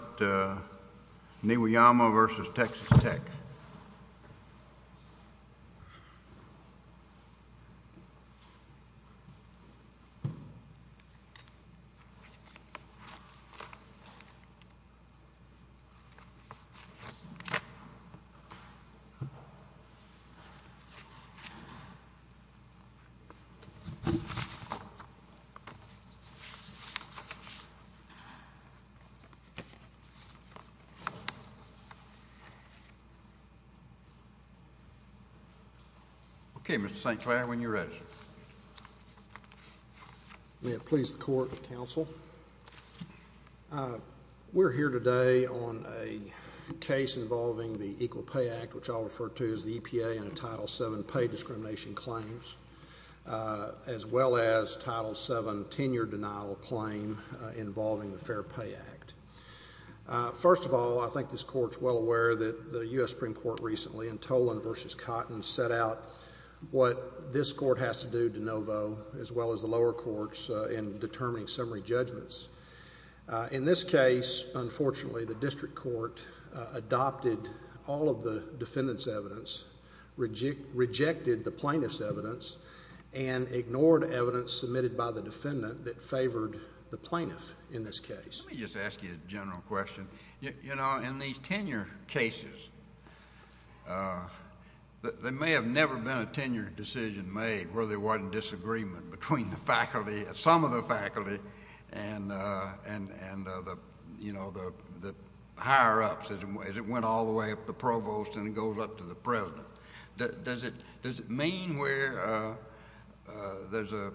Niwayama v. Texas Tech Okay, Mr. St. Clair, when you're ready, sir. May it please the court and counsel. We're here today on a case involving the Equal Pay Act, which I'll refer to as the EPA, and Title VII pay discrimination claims, as well as Title VII tenure denial claim involving the Fair Pay Act. First of all, I think this court's well aware that the U.S. Supreme Court recently, in Tolan v. Cotton, set out what this court has to do de novo, as well as the lower courts, in determining summary judgments. In this case, unfortunately, the district court adopted all of the defendant's evidence, rejected the plaintiff's evidence, and ignored evidence submitted by the defendant that favored the plaintiff in this case. Let me just ask you a general question. You know, in these tenure cases, there may have never been a tenure decision made where there wasn't disagreement between the faculty, some of the faculty, and the higher-ups, as it went all the way up to the provost and goes up to the president. Does it mean where there's a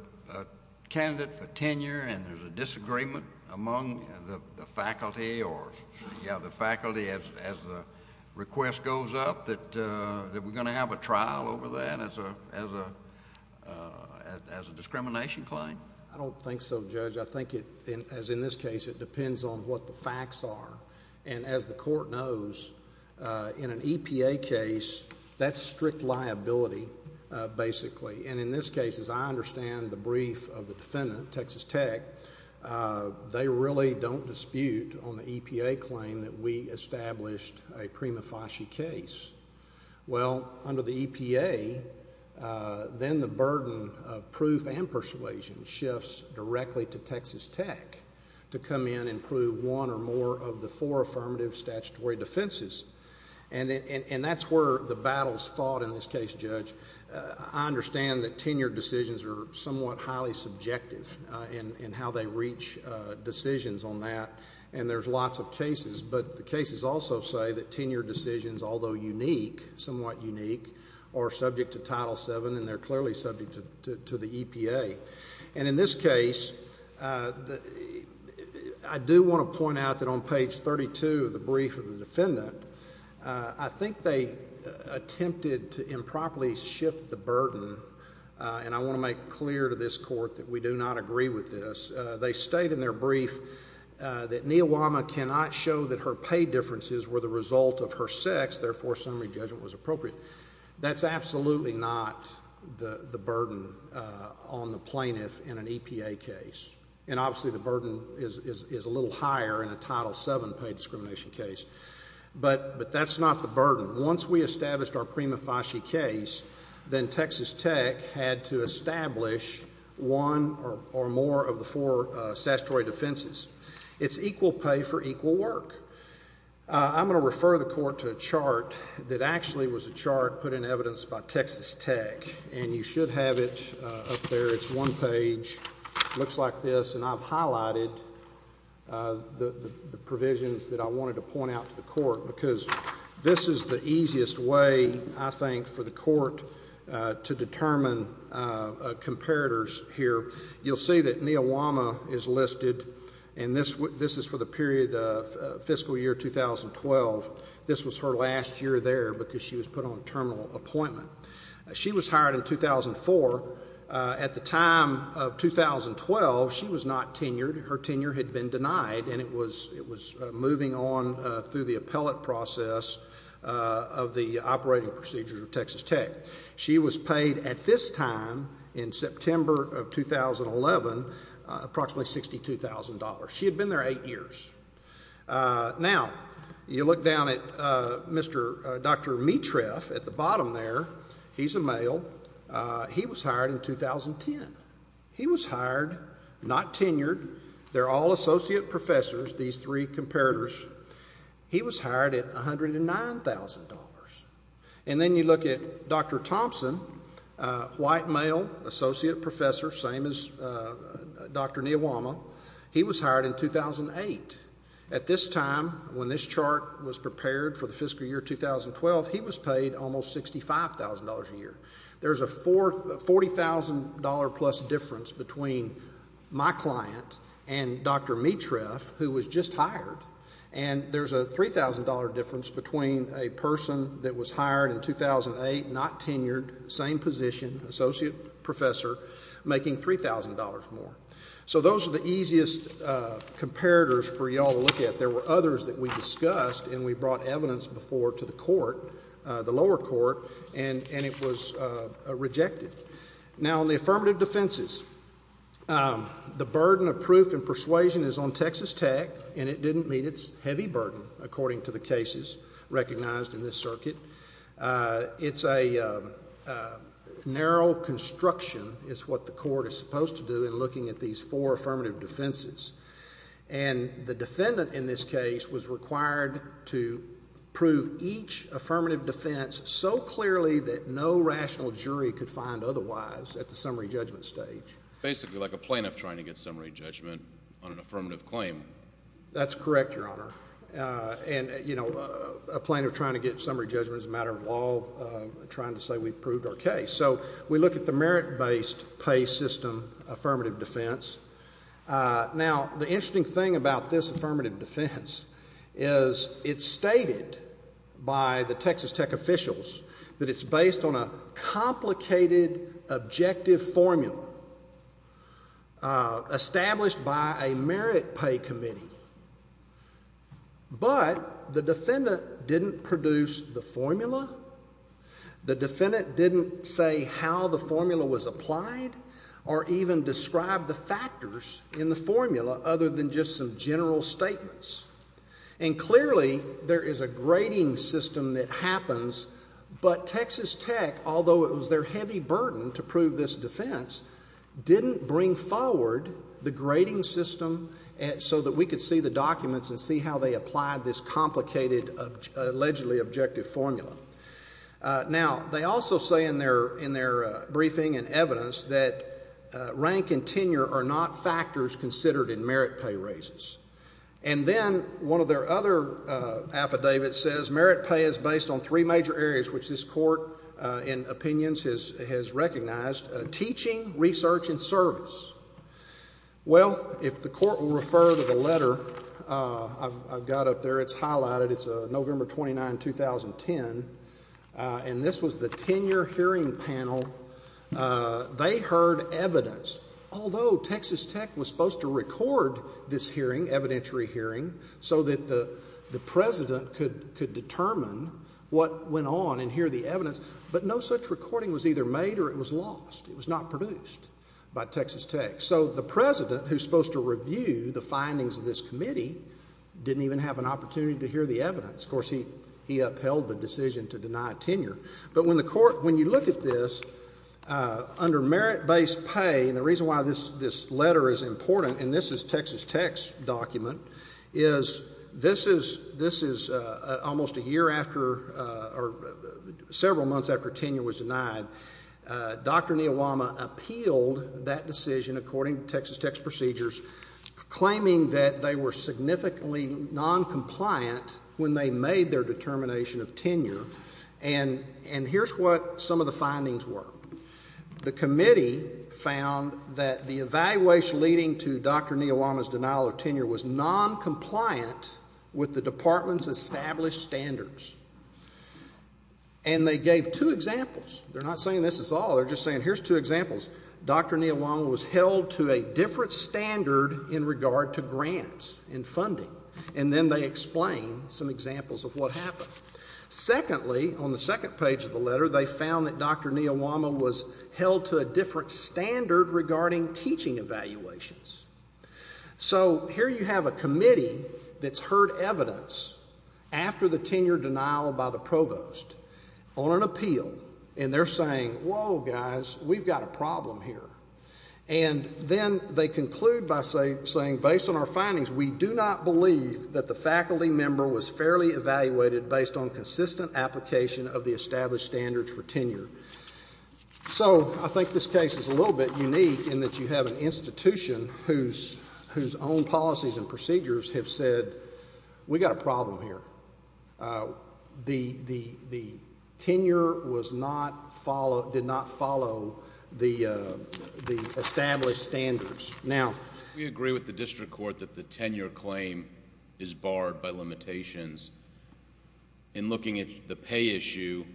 candidate for tenure and there's a disagreement among the faculty, or you have the faculty, as the request goes up, that we're going to have a trial over that as a discrimination claim? I don't think so, Judge. I think, as in this case, it depends on what the facts are. And as the court knows, in an EPA case, that's strict liability, basically. And in this case, as I understand the brief of the defendant, Texas Tech, they really don't dispute on the EPA claim that we established a prima facie case. Well, under the EPA, then the burden of proof and persuasion shifts directly to Texas Tech to come in and prove one or more of the four affirmative statutory defenses. And that's where the battles fought in this case, Judge. I understand that tenure decisions are somewhat highly subjective in how they reach decisions on that, and there's lots of cases, but the cases also say that tenure decisions, although unique, somewhat unique, are subject to Title VII and they're clearly subject to the EPA. And in this case, I do want to point out that on page 32 of the brief of the defendant, I think they attempted to improperly shift the burden, and I want to make clear to this court that we do not agree with this. They state in their brief that Niawama cannot show that her pay differences were the result of her sex, therefore summary judgment was appropriate. That's absolutely not the burden on the plaintiff in an EPA case. And obviously the burden is a little higher in a Title VII paid discrimination case. But that's not the burden. Once we established our Prima Fasci case, then Texas Tech had to establish one or more of the four statutory defenses. It's equal pay for equal work. I'm going to refer the court to a chart that actually was a chart put in evidence by Texas Tech, and you should have it up there. It's one page, looks like this, and I've highlighted the provisions that I wanted to point out to the court because this is the easiest way, I think, for the court to determine comparators here. You'll see that Niawama is listed, and this is for the period of fiscal year 2012. This was her last year there because she was put on a terminal appointment. She was hired in 2004. At the time of 2012, she was not tenured. Her tenure had been denied, and it was moving on through the appellate process of the operating procedures of Texas Tech. She was paid at this time in September of 2011 approximately $62,000. She had been there eight years. Now, you look down at Dr. Mitreff at the bottom there. He's a male. He was hired in 2010. He was hired, not tenured. They're all associate professors, these three comparators. He was hired at $109,000. And then you look at Dr. Thompson, white male, associate professor, same as Dr. Niawama. He was hired in 2008. At this time, when this chart was prepared for the fiscal year 2012, he was paid almost $65,000 a year. There's a $40,000-plus difference between my client and Dr. Mitreff, who was just hired, and there's a $3,000 difference between a person that was hired in 2008, not tenured, same position, associate professor, making $3,000 more. So those are the easiest comparators for you all to look at. There were others that we discussed, and we brought evidence before to the court, the lower court, and it was rejected. Now, on the affirmative defenses, the burden of proof and persuasion is on Texas Tech, and it didn't meet its heavy burden according to the cases recognized in this circuit. It's a narrow construction is what the court is supposed to do in looking at these four affirmative defenses. And the defendant in this case was required to prove each affirmative defense so clearly that no rational jury could find otherwise at the summary judgment stage. Basically like a plaintiff trying to get summary judgment on an affirmative claim. That's correct, Your Honor. And, you know, a plaintiff trying to get summary judgment is a matter of law, trying to say we've proved our case. So we look at the merit-based pay system affirmative defense. Now, the interesting thing about this affirmative defense is it's stated by the Texas Tech officials that it's based on a complicated objective formula established by a merit pay committee. But the defendant didn't produce the formula. The defendant didn't say how the formula was applied or even describe the factors in the formula other than just some general statements. And clearly there is a grading system that happens, but Texas Tech, although it was their heavy burden to prove this defense, didn't bring forward the grading system so that we could see the documents and see how they applied this complicated allegedly objective formula. Now, they also say in their briefing and evidence that rank and tenure are not factors considered in merit pay raises. And then one of their other affidavits says merit pay is based on three major areas, which this court in opinions has recognized, teaching, research, and service. Well, if the court will refer to the letter I've got up there, it's highlighted. It's November 29, 2010. And this was the tenure hearing panel. They heard evidence, although Texas Tech was supposed to record this hearing, evidentiary hearing, so that the president could determine what went on and hear the evidence. But no such recording was either made or it was lost. It was not produced by Texas Tech. So the president, who's supposed to review the findings of this committee, didn't even have an opportunity to hear the evidence. Of course, he upheld the decision to deny tenure. But when you look at this, under merit-based pay, and the reason why this letter is important, and this is Texas Tech's document, is this is almost a year after or several months after tenure was denied. Dr. Niyawama appealed that decision according to Texas Tech's procedures, claiming that they were significantly noncompliant when they made their determination of tenure. And here's what some of the findings were. The committee found that the evaluation leading to Dr. Niyawama's denial of tenure was noncompliant with the department's established standards. And they gave two examples. They're not saying this is all. They're just saying here's two examples. Dr. Niyawama was held to a different standard in regard to grants and funding. And then they explained some examples of what happened. Secondly, on the second page of the letter, they found that Dr. Niyawama was held to a different standard regarding teaching evaluations. So here you have a committee that's heard evidence after the tenure denial by the provost on an appeal, and they're saying, whoa, guys, we've got a problem here. And then they conclude by saying, based on our findings, we do not believe that the faculty member was fairly evaluated based on consistent application of the established standards for tenure. So I think this case is a little bit unique in that you have an institution whose own policies and procedures have said, we've got a problem here. The tenure did not follow the established standards. We agree with the district court that the tenure claim is barred by limitations. In looking at the pay issue,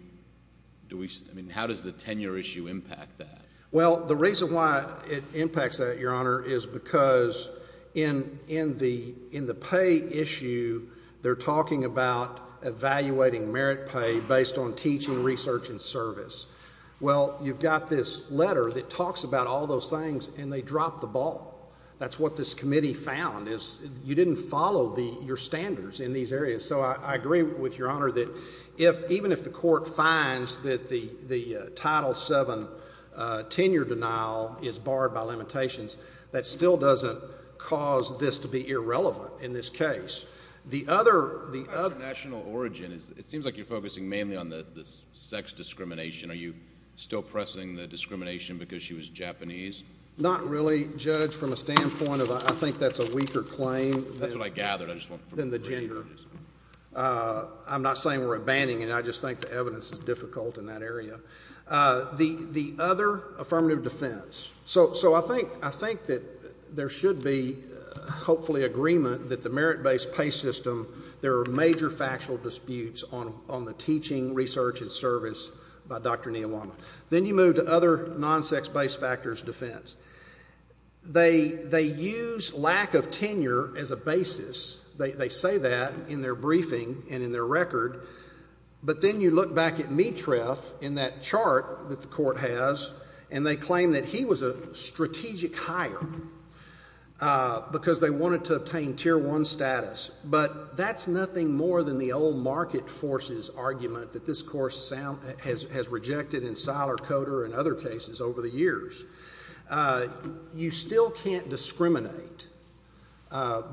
how does the tenure issue impact that? Well, the reason why it impacts that, Your Honor, is because in the pay issue, they're talking about evaluating merit pay based on teaching, research, and service. Well, you've got this letter that talks about all those things, and they drop the ball. That's what this committee found is you didn't follow your standards in these areas. So I agree with Your Honor that even if the court finds that the Title VII tenure denial is barred by limitations, that still doesn't cause this to be irrelevant in this case. The other national origin is it seems like you're focusing mainly on the sex discrimination. Are you still pressing the discrimination because she was Japanese? Not really, Judge, from a standpoint of I think that's a weaker claim than the gender. I'm not saying we're abandoning it. I just think the evidence is difficult in that area. The other affirmative defense. So I think that there should be hopefully agreement that the merit-based pay system, there are major factual disputes on the teaching, research, and service by Dr. Niyawama. Then you move to other non-sex-based factors of defense. They use lack of tenure as a basis. They say that in their briefing and in their record. But then you look back at Mitreff in that chart that the court has, and they claim that he was a strategic hire because they wanted to obtain Tier I status. But that's nothing more than the old market forces argument that this court has rejected in Seiler-Coder and other cases over the years. You still can't discriminate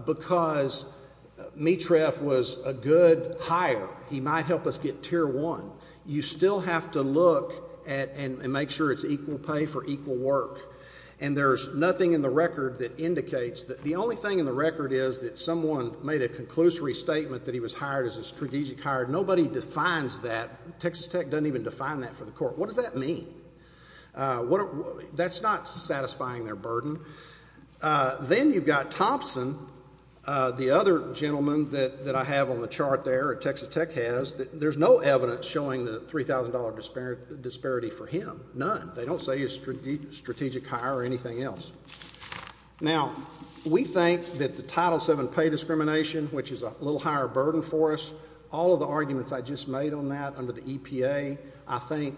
because Mitreff was a good hire. He might help us get Tier I. You still have to look and make sure it's equal pay for equal work. And there's nothing in the record that indicates that. The only thing in the record is that someone made a conclusory statement that he was hired as a strategic hire. Nobody defines that. Texas Tech doesn't even define that for the court. What does that mean? That's not satisfying their burden. Then you've got Thompson, the other gentleman that I have on the chart there, Texas Tech has, there's no evidence showing the $3,000 disparity for him. None. They don't say he's a strategic hire or anything else. Now, we think that the Title VII pay discrimination, which is a little higher burden for us, all of the arguments I just made on that under the EPA, I think,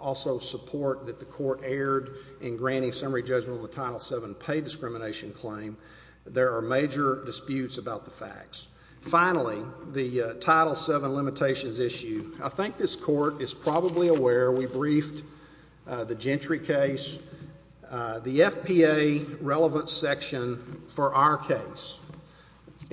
also support that the court erred in granting summary judgment on the Title VII pay discrimination claim. There are major disputes about the facts. Finally, the Title VII limitations issue, I think this court is probably aware we briefed the Gentry case, the FPA relevance section for our case,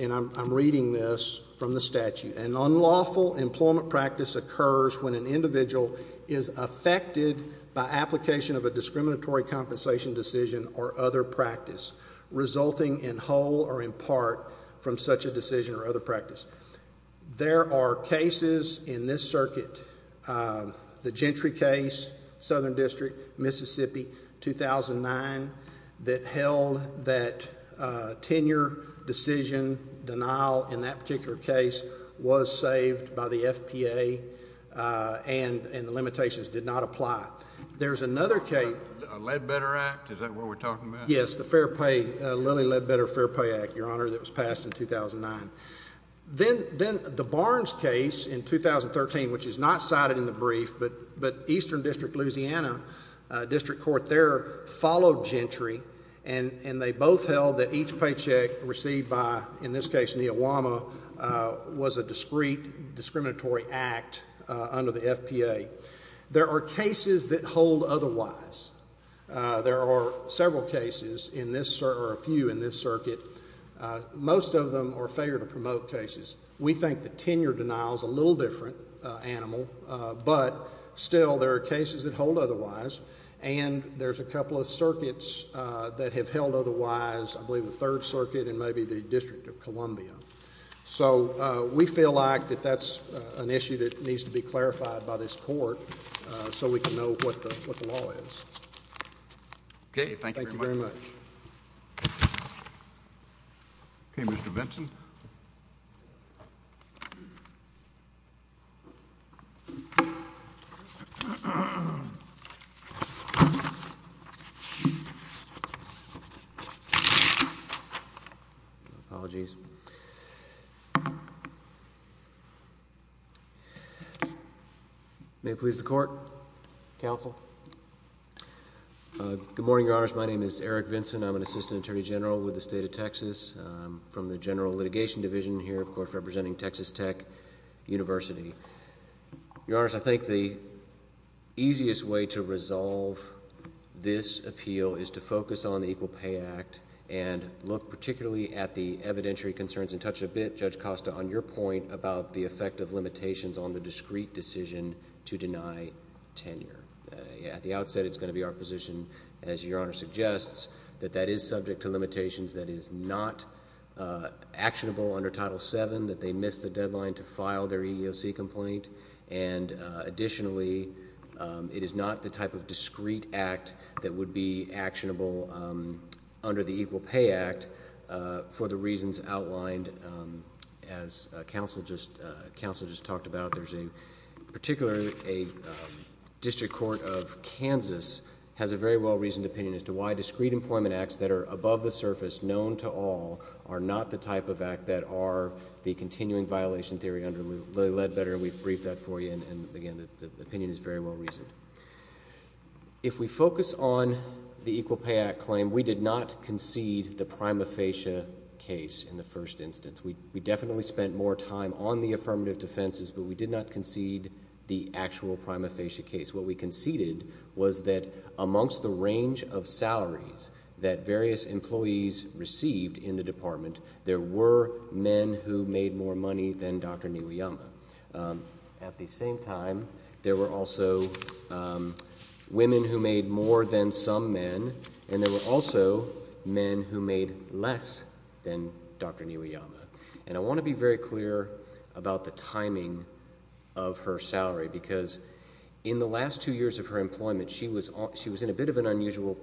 and I'm reading this from the statute. An unlawful employment practice occurs when an individual is affected by application of a discriminatory compensation decision or other practice resulting in whole or in part from such a decision or other practice. There are cases in this circuit, the Gentry case, Southern District, Mississippi, 2009, that held that tenure decision denial in that particular case was saved by the FPA and the limitations did not apply. A Ledbetter Act, is that what we're talking about? Yes, the Lilly Ledbetter Fair Pay Act, Your Honor, that was passed in 2009. Then the Barnes case in 2013, which is not cited in the brief, but Eastern District, Louisiana, District Court there followed Gentry, and they both held that each paycheck received by, in this case, There are several cases, or a few in this circuit, most of them are failure to promote cases. We think the tenure denial is a little different animal, but still there are cases that hold otherwise, and there's a couple of circuits that have held otherwise, I believe the Third Circuit and maybe the District of Columbia. We feel like that that's an issue that needs to be clarified by this court so we can know what the law is. Okay, thank you very much. Thank you very much. Okay, Mr. Benson. Thank you. Apologies. May it please the Court. Counsel. Good morning, Your Honors. My name is Eric Vinson. I'm an Assistant Attorney General with the State of Texas. I'm from the General Litigation Division here, of course, representing Texas Tech University. Your Honors, I think the easiest way to resolve this appeal is to focus on the Equal Pay Act and look particularly at the evidentiary concerns and touch a bit, Judge Costa, on your point about the effect of limitations on the discrete decision to deny tenure. At the outset, it's going to be our position, as Your Honor suggests, that that is subject to limitations that is not actionable under Title VII, that they miss the deadline to file their EEOC complaint. And additionally, it is not the type of discrete act that would be actionable under the Equal Pay Act for the reasons outlined, as Counsel just talked about. There's a particular district court of Kansas has a very well-reasoned opinion as to why discrete employment acts that are above the surface, known to all, are not the type of act that are the continuing violation theory under Lilly Ledbetter. We've briefed that for you, and again, the opinion is very well-reasoned. If we focus on the Equal Pay Act claim, we did not concede the prima facie case in the first instance. We definitely spent more time on the affirmative defenses, but we did not concede the actual prima facie case. What we conceded was that amongst the range of salaries that various employees received in the department, there were men who made more money than Dr. Niwayama. At the same time, there were also women who made more than some men, and there were also men who made less than Dr. Niwayama. And I want to be very clear about the timing of her salary because in the last two years of her employment, she was in a bit of an unusual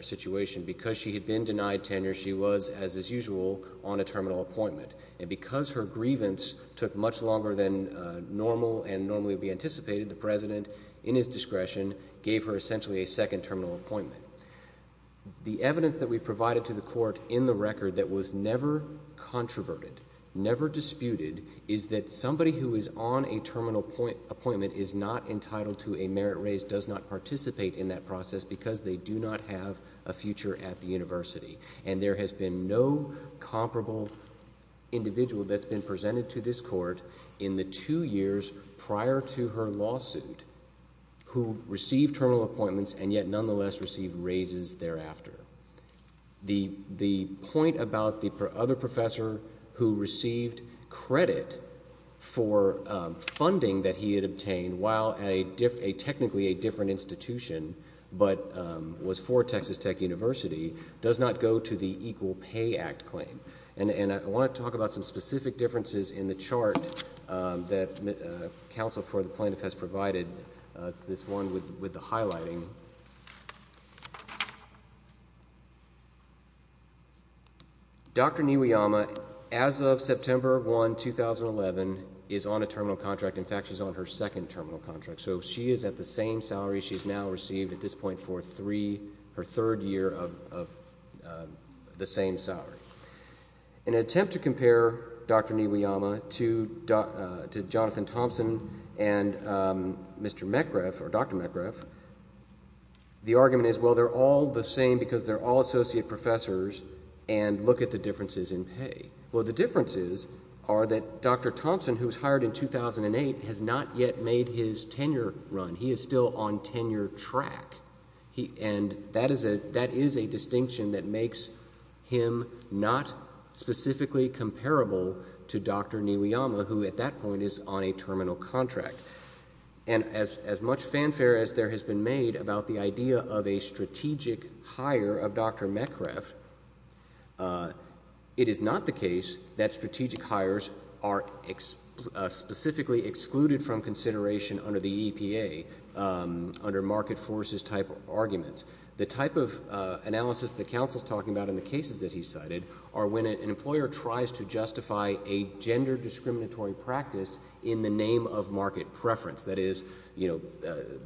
situation because she had been denied tenure. She was, as is usual, on a terminal appointment. And because her grievance took much longer than normal and normally would be anticipated, the President, in his discretion, gave her essentially a second terminal appointment. The evidence that we've provided to the Court in the record that was never controverted, never disputed, is that somebody who is on a terminal appointment is not entitled to a merit raise, does not participate in that process because they do not have a future at the university. And there has been no comparable individual that's been presented to this Court in the two years prior to her lawsuit who received terminal appointments and yet nonetheless received raises thereafter. The point about the other professor who received credit for funding that he had obtained while at technically a different institution but was for Texas Tech University does not go to the Equal Pay Act claim. And I want to talk about some specific differences in the chart that Counsel for the Plaintiff has provided, this one with the highlighting. Dr. Niwayama, as of September 1, 2011, is on a terminal contract. In fact, she's on her second terminal contract. So she is at the same salary she's now received at this point for her third year of the same salary. In an attempt to compare Dr. Niwayama to Jonathan Thompson and Mr. Metcalf or Dr. Metcalf, the argument is, well, they're all the same because they're all associate professors and look at the differences in pay. Well, the differences are that Dr. Thompson, who was hired in 2008, has not yet made his tenure run. He is still on tenure track, and that is a distinction that makes him not specifically comparable to Dr. Niwayama, who at that point is on a terminal contract. And as much fanfare as there has been made about the idea of a strategic hire of Dr. Metcalf, it is not the case that strategic hires are specifically excluded from consideration under the EPA, under market forces type arguments. The type of analysis that Counsel is talking about in the cases that he cited are when an employer tries to justify a That is, you know,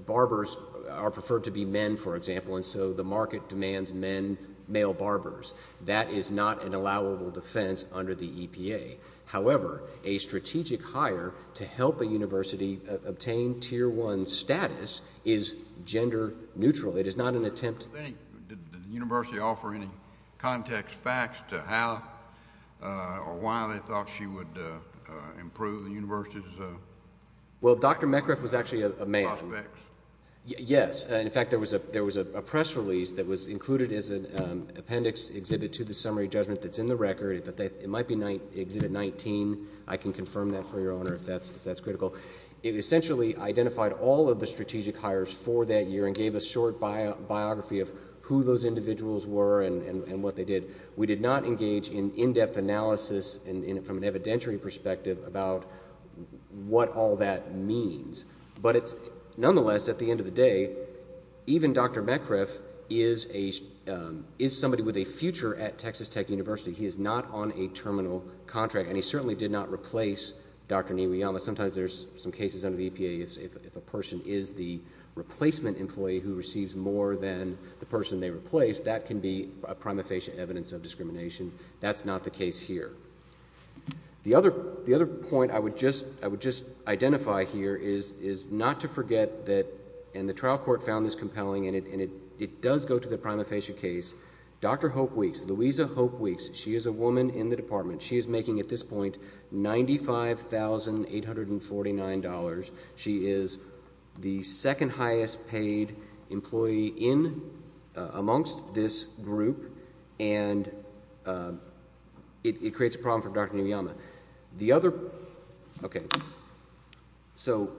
barbers are preferred to be men, for example, and so the market demands men, male barbers. That is not an allowable defense under the EPA. However, a strategic hire to help a university obtain tier one status is gender neutral. It is not an attempt to— Did the university offer any context facts to how or why they thought she would improve the university? Well, Dr. Metcalf was actually a man. Yes. In fact, there was a press release that was included as an appendix exhibit to the summary judgment that is in the record. It might be Exhibit 19. I can confirm that for you, Your Honor, if that is critical. It essentially identified all of the strategic hires for that year and gave a short biography of who those individuals were and what they did. We did not engage in in-depth analysis from an evidentiary perspective about what all that means. But nonetheless, at the end of the day, even Dr. Metcalf is somebody with a future at Texas Tech University. He is not on a terminal contract, and he certainly did not replace Dr. Niwiyama. Sometimes there's some cases under the EPA if a person is the replacement employee who receives more than the person they replaced, that can be a prima facie evidence of discrimination. That's not the case here. The other point I would just identify here is not to forget that, and the trial court found this compelling, and it does go to the prima facie case, Dr. Hope Weeks, Louisa Hope Weeks, she is a woman in the department. She is making, at this point, $95,849. She is the second highest paid employee in, amongst this group, and it creates a problem for Dr. Niwiyama. The other, okay, so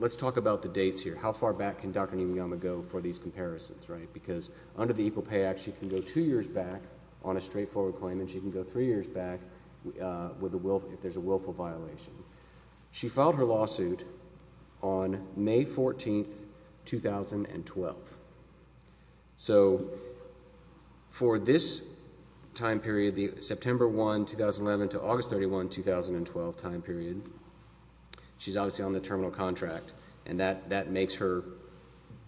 let's talk about the dates here. How far back can Dr. Niwiyama go for these comparisons, right? Because under the Equal Pay Act, she can go two years back on a straightforward claim, and she can go three years back if there's a willful violation. She filed her lawsuit on May 14, 2012. So for this time period, the September 1, 2011 to August 31, 2012 time period, she's obviously on the terminal contract, and that makes her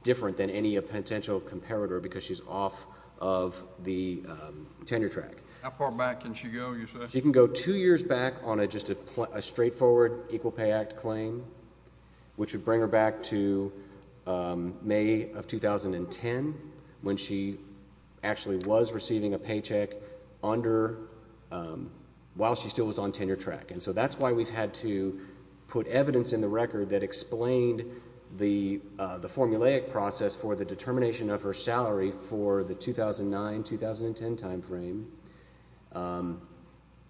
different than any potential comparator because she's off of the tenure track. How far back can she go, you say? She can go two years back on just a straightforward Equal Pay Act claim, which would bring her back to May of 2010 when she actually was receiving a paycheck under, while she still was on tenure track. And so that's why we've had to put evidence in the record that explained the formulaic process for the determination of her salary for the 2009-2010 time frame.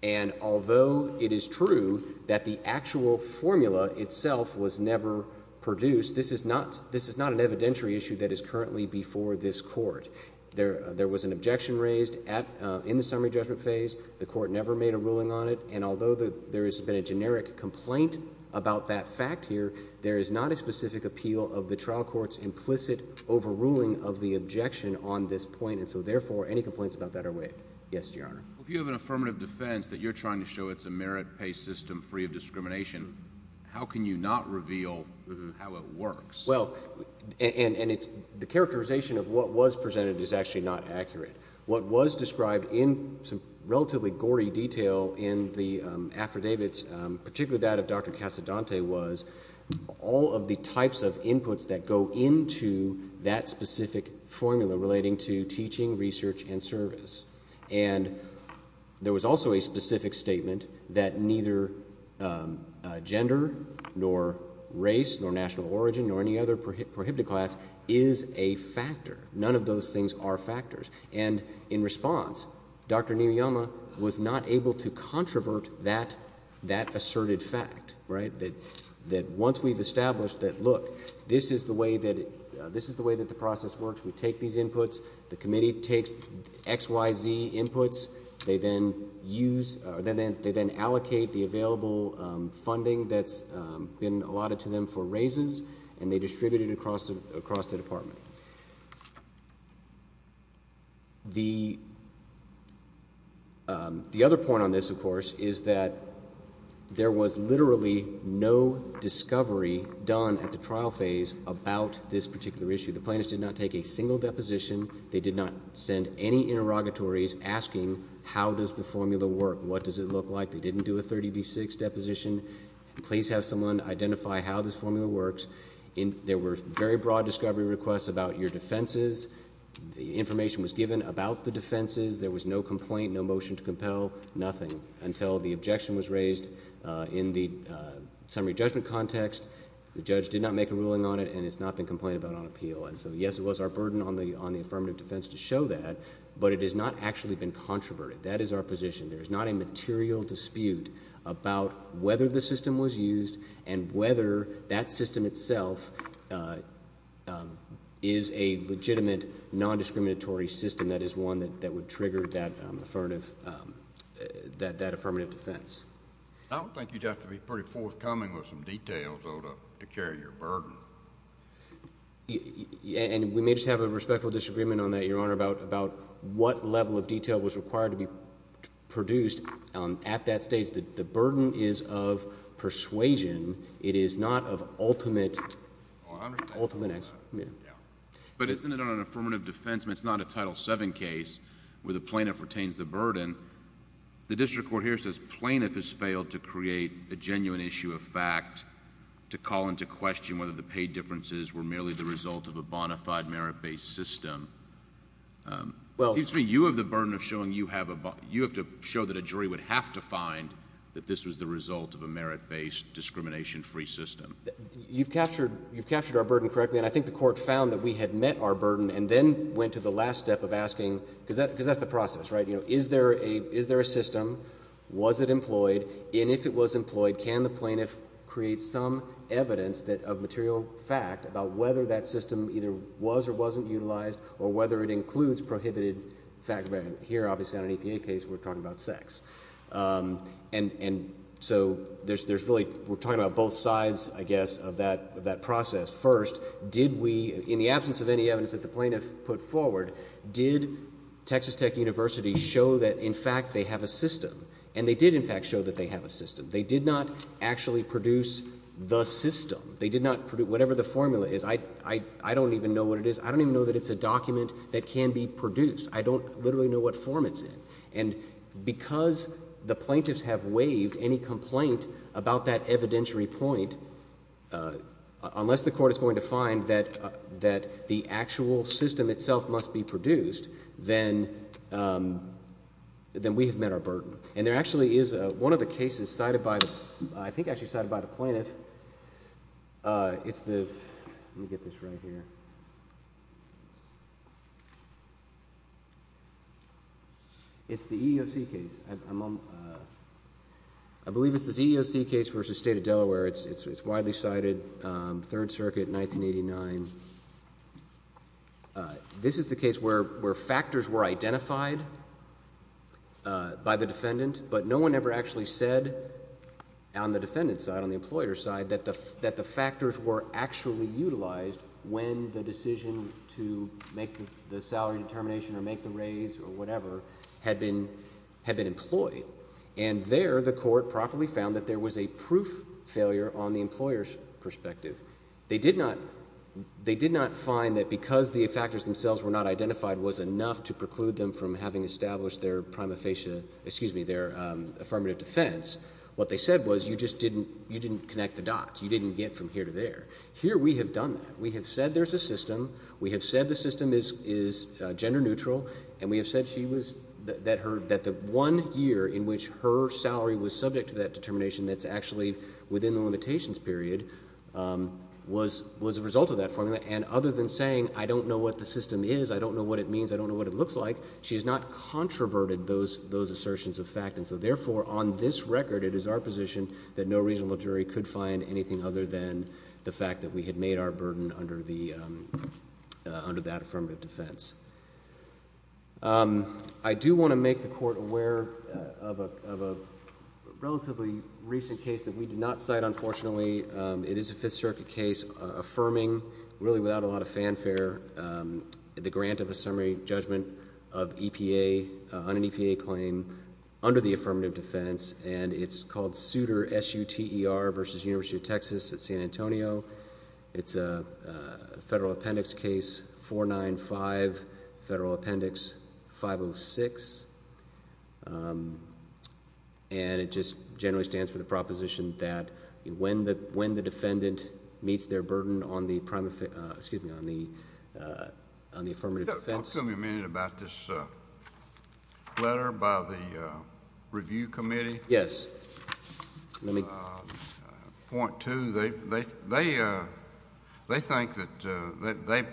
And although it is true that the actual formula itself was never produced, this is not an evidentiary issue that is currently before this Court. There was an objection raised in the summary judgment phase. The Court never made a ruling on it, and although there has been a generic complaint about that fact here, there is not a specific appeal of the trial court's implicit overruling of the objection on this point. And so, therefore, any complaints about that are waived. Yes, Your Honor. Well, if you have an affirmative defense that you're trying to show it's a merit-based system free of discrimination, how can you not reveal how it works? Well, and the characterization of what was presented is actually not accurate. What was described in some relatively gory detail in the affidavits, particularly that of Dr. Casadante, was all of the types of inputs that go into that specific formula relating to teaching, research, and service. And there was also a specific statement that neither gender nor race nor national origin nor any other prohibited class is a factor. None of those things are factors. And in response, Dr. Niyoyama was not able to controvert that asserted fact, right, that once we've established that, look, this is the way that the process works. We take these inputs. The committee takes X, Y, Z inputs. They then use or they then allocate the available funding that's been allotted to them for raises, and they distribute it across the department. The other point on this, of course, is that there was literally no discovery done at the trial phase about this particular issue. The plaintiffs did not take a single deposition. They did not send any interrogatories asking how does the formula work, what does it look like. They didn't do a 30 v. 6 deposition. Please have someone identify how this formula works. There were very broad discovery requests about your defenses. The information was given about the defenses. There was no complaint, no motion to compel, nothing until the objection was raised in the summary judgment context. The judge did not make a ruling on it, and it's not been complained about on appeal. And so, yes, it was our burden on the affirmative defense to show that, but it has not actually been controverted. That is our position. There is not a material dispute about whether the system was used and whether that system itself is a legitimate nondiscriminatory system that is one that would trigger that affirmative defense. I don't think you'd have to be pretty forthcoming with some details, though, to carry your burden. And we may just have a respectful disagreement on that, Your Honor, about what level of detail was required to be produced at that stage. The burden is of persuasion. It is not of ultimate... I understand.... ultimate... But isn't it on an affirmative defense? It's not a Title VII case where the plaintiff retains the burden. The district court here says plaintiff has failed to create a genuine issue of fact to call into question whether the pay differences were merely the result of a bona fide, merit-based system. Well... You have the burden of showing you have a... You have to show that a jury would have to find that this was the result of a merit-based, discrimination-free system. You've captured our burden correctly, and I think the court found that we had met our burden and then went to the last step of asking, because that's the process, right? Is there a system? Was it employed? And if it was employed, can the plaintiff create some evidence of material fact about whether that system either was or wasn't utilized or whether it includes prohibited facts? Here, obviously, on an EPA case, we're talking about sex. And so there's really... we're talking about both sides, I guess, of that process. First, did we, in the absence of any evidence that the plaintiff put forward, did Texas Tech University show that, in fact, they have a system? And they did, in fact, show that they have a system. They did not actually produce the system. They did not produce... whatever the formula is, I don't even know what it is. I don't even know that it's a document that can be produced. I don't literally know what form it's in. And because the plaintiffs have waived any complaint about that evidentiary point, unless the court is going to find that the actual system itself must be produced, then we have met our burden. And there actually is... one of the cases cited by the... I think actually cited by the plaintiff. It's the... let me get this right here. It's the EEOC case. I believe it's this EEOC case versus State of Delaware. It's widely cited, Third Circuit, 1989. This is the case where factors were identified by the defendant, but no one ever actually said on the defendant's side, on the employer's side, that the factors were actually utilized when the decision to make the salary determination or make the raise or whatever had been employed. And there, the court properly found that there was a proof failure on the employer's perspective. They did not find that because the factors themselves were not identified was enough to preclude them from having established their affirmative defense. What they said was you just didn't connect the dots. You didn't get from here to there. Here we have done that. We have said there's a system. We have said the system is gender neutral. And we have said that the one year in which her salary was subject to that determination that's actually within the limitations period was a result of that formula. And other than saying I don't know what the system is, I don't know what it means, I don't know what it looks like, she has not controverted those assertions of fact. And so therefore, on this record, it is our position that no reasonable jury could find anything other than the fact that we had made our burden under that affirmative defense. I do want to make the court aware of a relatively recent case that we did not cite, unfortunately. It is a Fifth Circuit case affirming, really without a lot of fanfare, the grant of a summary judgment of EPA on an EPA claim under the affirmative defense. And it's called Suter, S-U-T-E-R versus University of Texas at San Antonio. It's a Federal Appendix Case 495, Federal Appendix 506. And it just generally stands for the proposition that when the defendant meets their burden on the affirmative defense... Excuse me a minute about this letter by the review committee. Yes. Let me... Point two, they think that... they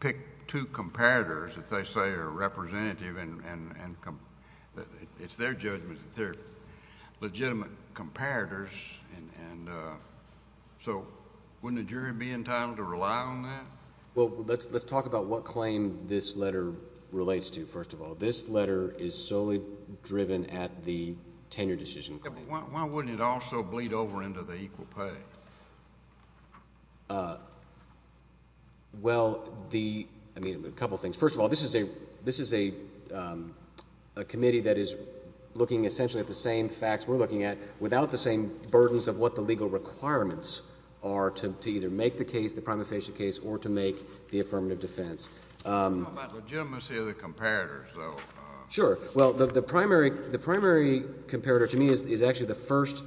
pick two comparators that they say are representative. And it's their judgment that they're legitimate comparators. And so wouldn't a jury be entitled to rely on that? Well, let's talk about what claim this letter relates to, first of all. This letter is solely driven at the tenure decision claim. Why wouldn't it also bleed over into the equal pay? Well, the... I mean, a couple of things. First of all, this is a committee that is looking essentially at the same facts we're looking at, without the same burdens of what the legal requirements are to either make the case, the prima facie case, or to make the affirmative defense. Let's talk about legitimacy of the comparators, though. Sure. Well, the primary comparator to me is actually the first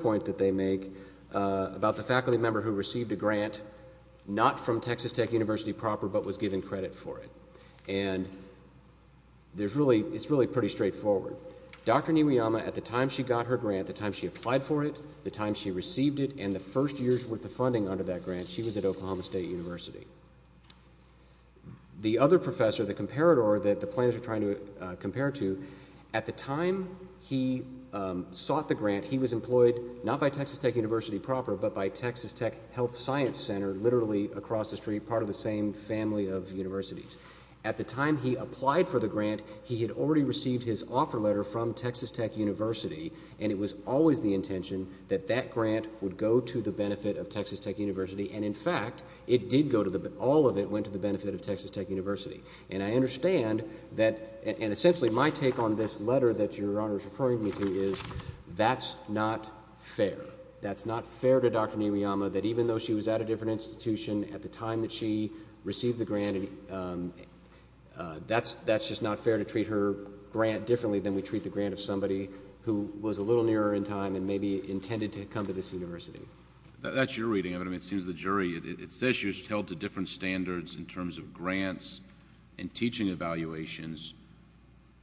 point that they make about the faculty member who received a grant, not from Texas Tech University proper, but was given credit for it. And there's really... it's really pretty straightforward. Dr. Niwoyama, at the time she got her grant, the time she applied for it, the time she received it, and the first year's worth of funding under that grant, she was at Oklahoma State University. The other professor, the comparator that the plaintiffs are trying to compare to, at the time he sought the grant, he was employed not by Texas Tech University proper, but by Texas Tech Health Science Center, literally across the street, part of the same family of universities. At the time he applied for the grant, he had already received his offer letter from Texas Tech University, and it was always the intention that that grant would go to the benefit of Texas Tech University. And, in fact, it did go to the... all of it went to the benefit of Texas Tech University. And I understand that... and, essentially, my take on this letter that Your Honor is referring me to is that's not fair. That's not fair to Dr. Niwoyama, that even though she was at a different institution at the time that she received the grant, that's just not fair to treat her grant differently than we treat the grant of somebody who was a little nearer in time and maybe intended to come to this university. That's your reading of it. I mean, it seems the jury... It says she was held to different standards in terms of grants and teaching evaluations,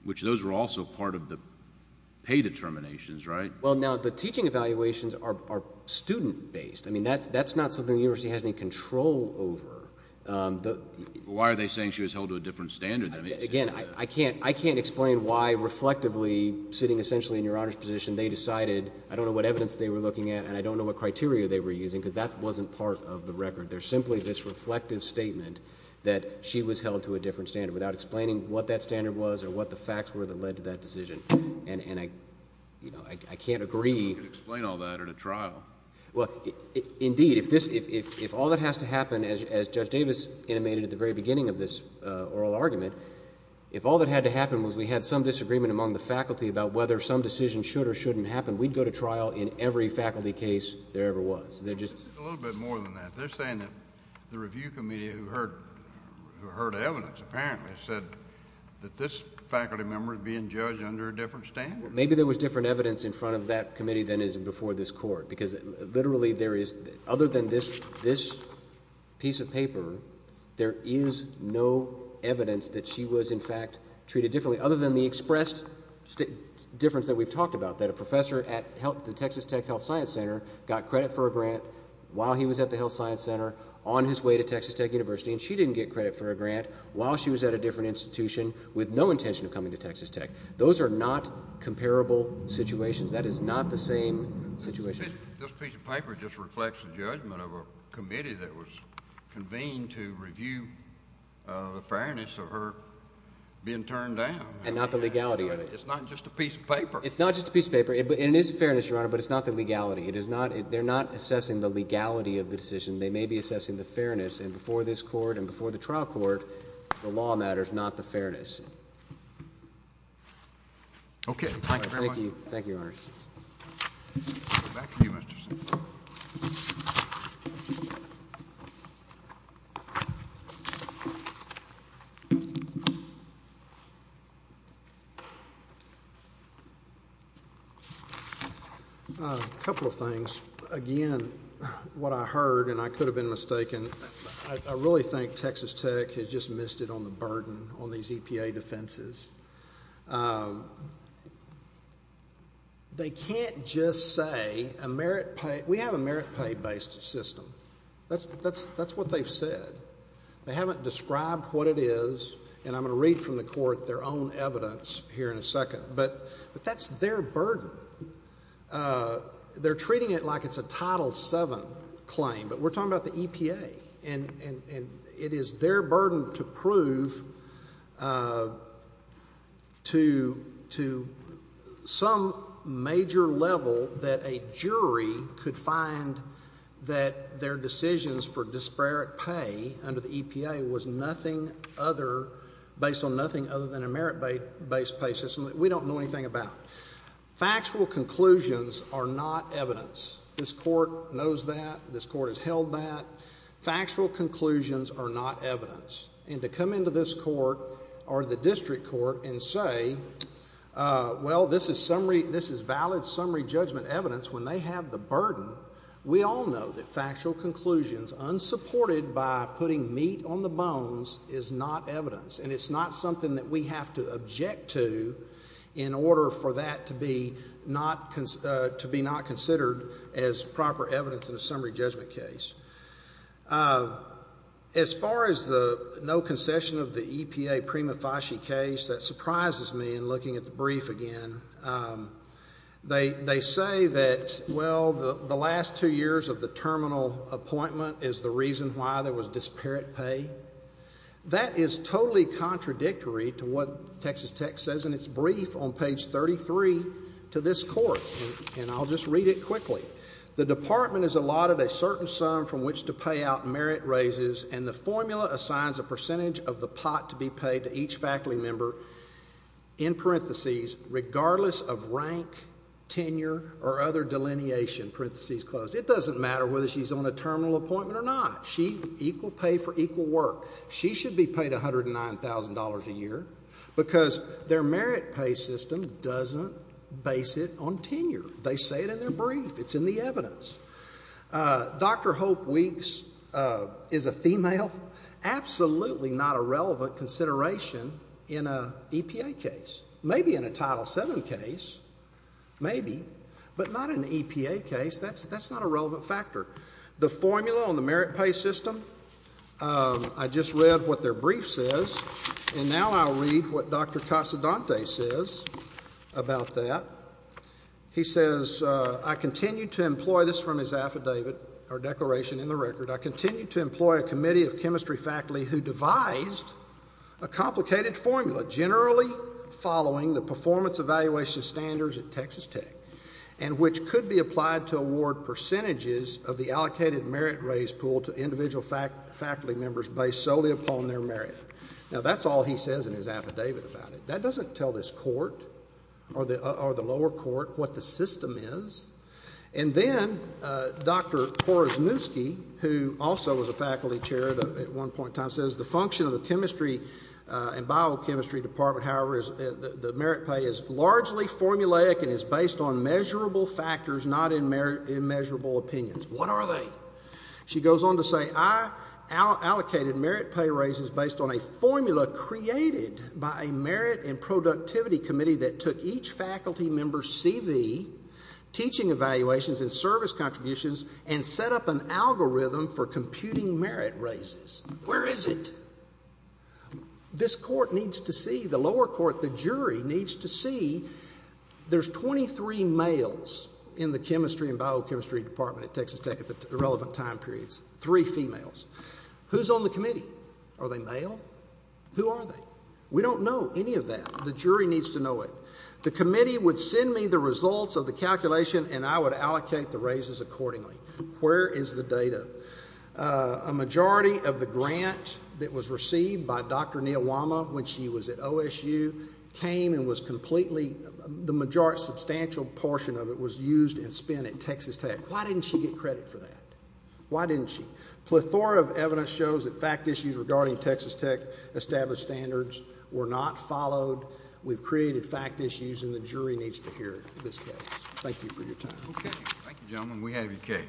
which those were also part of the pay determinations, right? Well, now, the teaching evaluations are student-based. I mean, that's not something the university has any control over. Why are they saying she was held to a different standard than... Again, I can't explain why, reflectively, sitting essentially in Your Honor's position, they decided... I don't know what evidence they were looking at, and I don't know what criteria they were using, because that wasn't part of the record. There's simply this reflective statement that she was held to a different standard, without explaining what that standard was or what the facts were that led to that decision. And I can't agree... You could explain all that at a trial. Well, indeed, if all that has to happen, as Judge Davis intimated at the very beginning of this oral argument, if all that had to happen was we had some disagreement among the faculty about whether some decision should or shouldn't happen, we'd go to trial in every faculty case there ever was. A little bit more than that. They're saying that the review committee who heard evidence apparently said that this faculty member is being judged under a different standard. Maybe there was different evidence in front of that committee than is before this Court, because literally there is... other than this piece of paper, there is no evidence that she was, in fact, treated differently, other than the expressed difference that we've talked about, that a professor at the Texas Tech Health Science Center got credit for a grant while he was at the Health Science Center, on his way to Texas Tech University, and she didn't get credit for a grant while she was at a different institution, with no intention of coming to Texas Tech. Those are not comparable situations. That is not the same situation. This piece of paper just reflects the judgment of a committee that was convened to review the fairness of her being turned down. And not the legality of it. It's not just a piece of paper. It's not just a piece of paper. And it is fairness, Your Honor, but it's not the legality. It is not... they're not assessing the legality of the decision. They may be assessing the fairness. And before this court and before the trial court, the law matters, not the fairness. Okay. Thank you very much. Thank you. Thank you, Your Honor. We'll go back to you, Mr. Sinclair. A couple of things. Again, what I heard, and I could have been mistaken, I really think Texas Tech has just missed it on the burden on these EPA defenses. They can't just say a merit pay... we have a merit pay based system. That's what they've said. They haven't described what it is. And I'm going to read from the court their own evidence here in a second. But that's their burden. They're treating it like it's a Title VII claim. But we're talking about the EPA. And it is their burden to prove to some major level that a jury could find that their decisions for disparate pay under the EPA was nothing other... based on nothing other than a merit based pay system that we don't know anything about. Factual conclusions are not evidence. This court knows that. This court has held that. Factual conclusions are not evidence. And to come into this court or the district court and say, well, this is summary... this is valid summary judgment evidence when they have the burden. We all know that factual conclusions unsupported by putting meat on the bones is not evidence. And it's not something that we have to object to in order for that to be not considered as proper evidence in a summary judgment case. As far as the no concession of the EPA prima facie case, that surprises me in looking at the brief again. They say that, well, the last two years of the terminal appointment is the reason why there was disparate pay. That is totally contradictory to what Texas Tech says in its brief on page 33 to this court. And I'll just read it quickly. The department is allotted a certain sum from which to pay out merit raises, and the formula assigns a percentage of the pot to be paid to each faculty member, in parentheses, regardless of rank, tenure, or other delineation, parentheses close. It doesn't matter whether she's on a terminal appointment or not. She, equal pay for equal work. She should be paid $109,000 a year because their merit pay system doesn't base it on tenure. They say it in their brief. It's in the evidence. Dr. Hope Weeks is a female. Absolutely not a relevant consideration in an EPA case. Maybe in a Title VII case, maybe, but not in an EPA case. That's not a relevant factor. The formula on the merit pay system, I just read what their brief says, and now I'll read what Dr. Casadante says about that. He says, I continue to employ this from his affidavit or declaration in the record. I continue to employ a committee of chemistry faculty who devised a complicated formula, generally following the performance evaluation standards at Texas Tech, and which could be applied to award percentages of the allocated merit raise pool to individual faculty members based solely upon their merit. Now, that's all he says in his affidavit about it. That doesn't tell this court or the lower court what the system is. And then Dr. Korosniewski, who also was a faculty chair at one point in time, says the function of the chemistry and biochemistry department, however, the merit pay is largely formulaic and is based on measurable factors, not immeasurable opinions. What are they? She goes on to say, I allocated merit pay raises based on a formula created by a merit and productivity committee that took each faculty member's CV, teaching evaluations, and service contributions and set up an algorithm for computing merit raises. Where is it? This court needs to see, the lower court, the jury needs to see there's 23 males in the chemistry and biochemistry department at Texas Tech at the relevant time periods, three females. Who's on the committee? Are they male? Who are they? We don't know any of that. The jury needs to know it. The committee would send me the results of the calculation and I would allocate the raises accordingly. Where is the data? A majority of the grant that was received by Dr. Niyawama when she was at OSU came and was completely, the majority, substantial portion of it was used and spent at Texas Tech. Why didn't she get credit for that? Why didn't she? Plethora of evidence shows that fact issues regarding Texas Tech established standards were not followed. We've created fact issues and the jury needs to hear this case. Thank you for your time. Okay. Thank you, gentlemen. We have your case.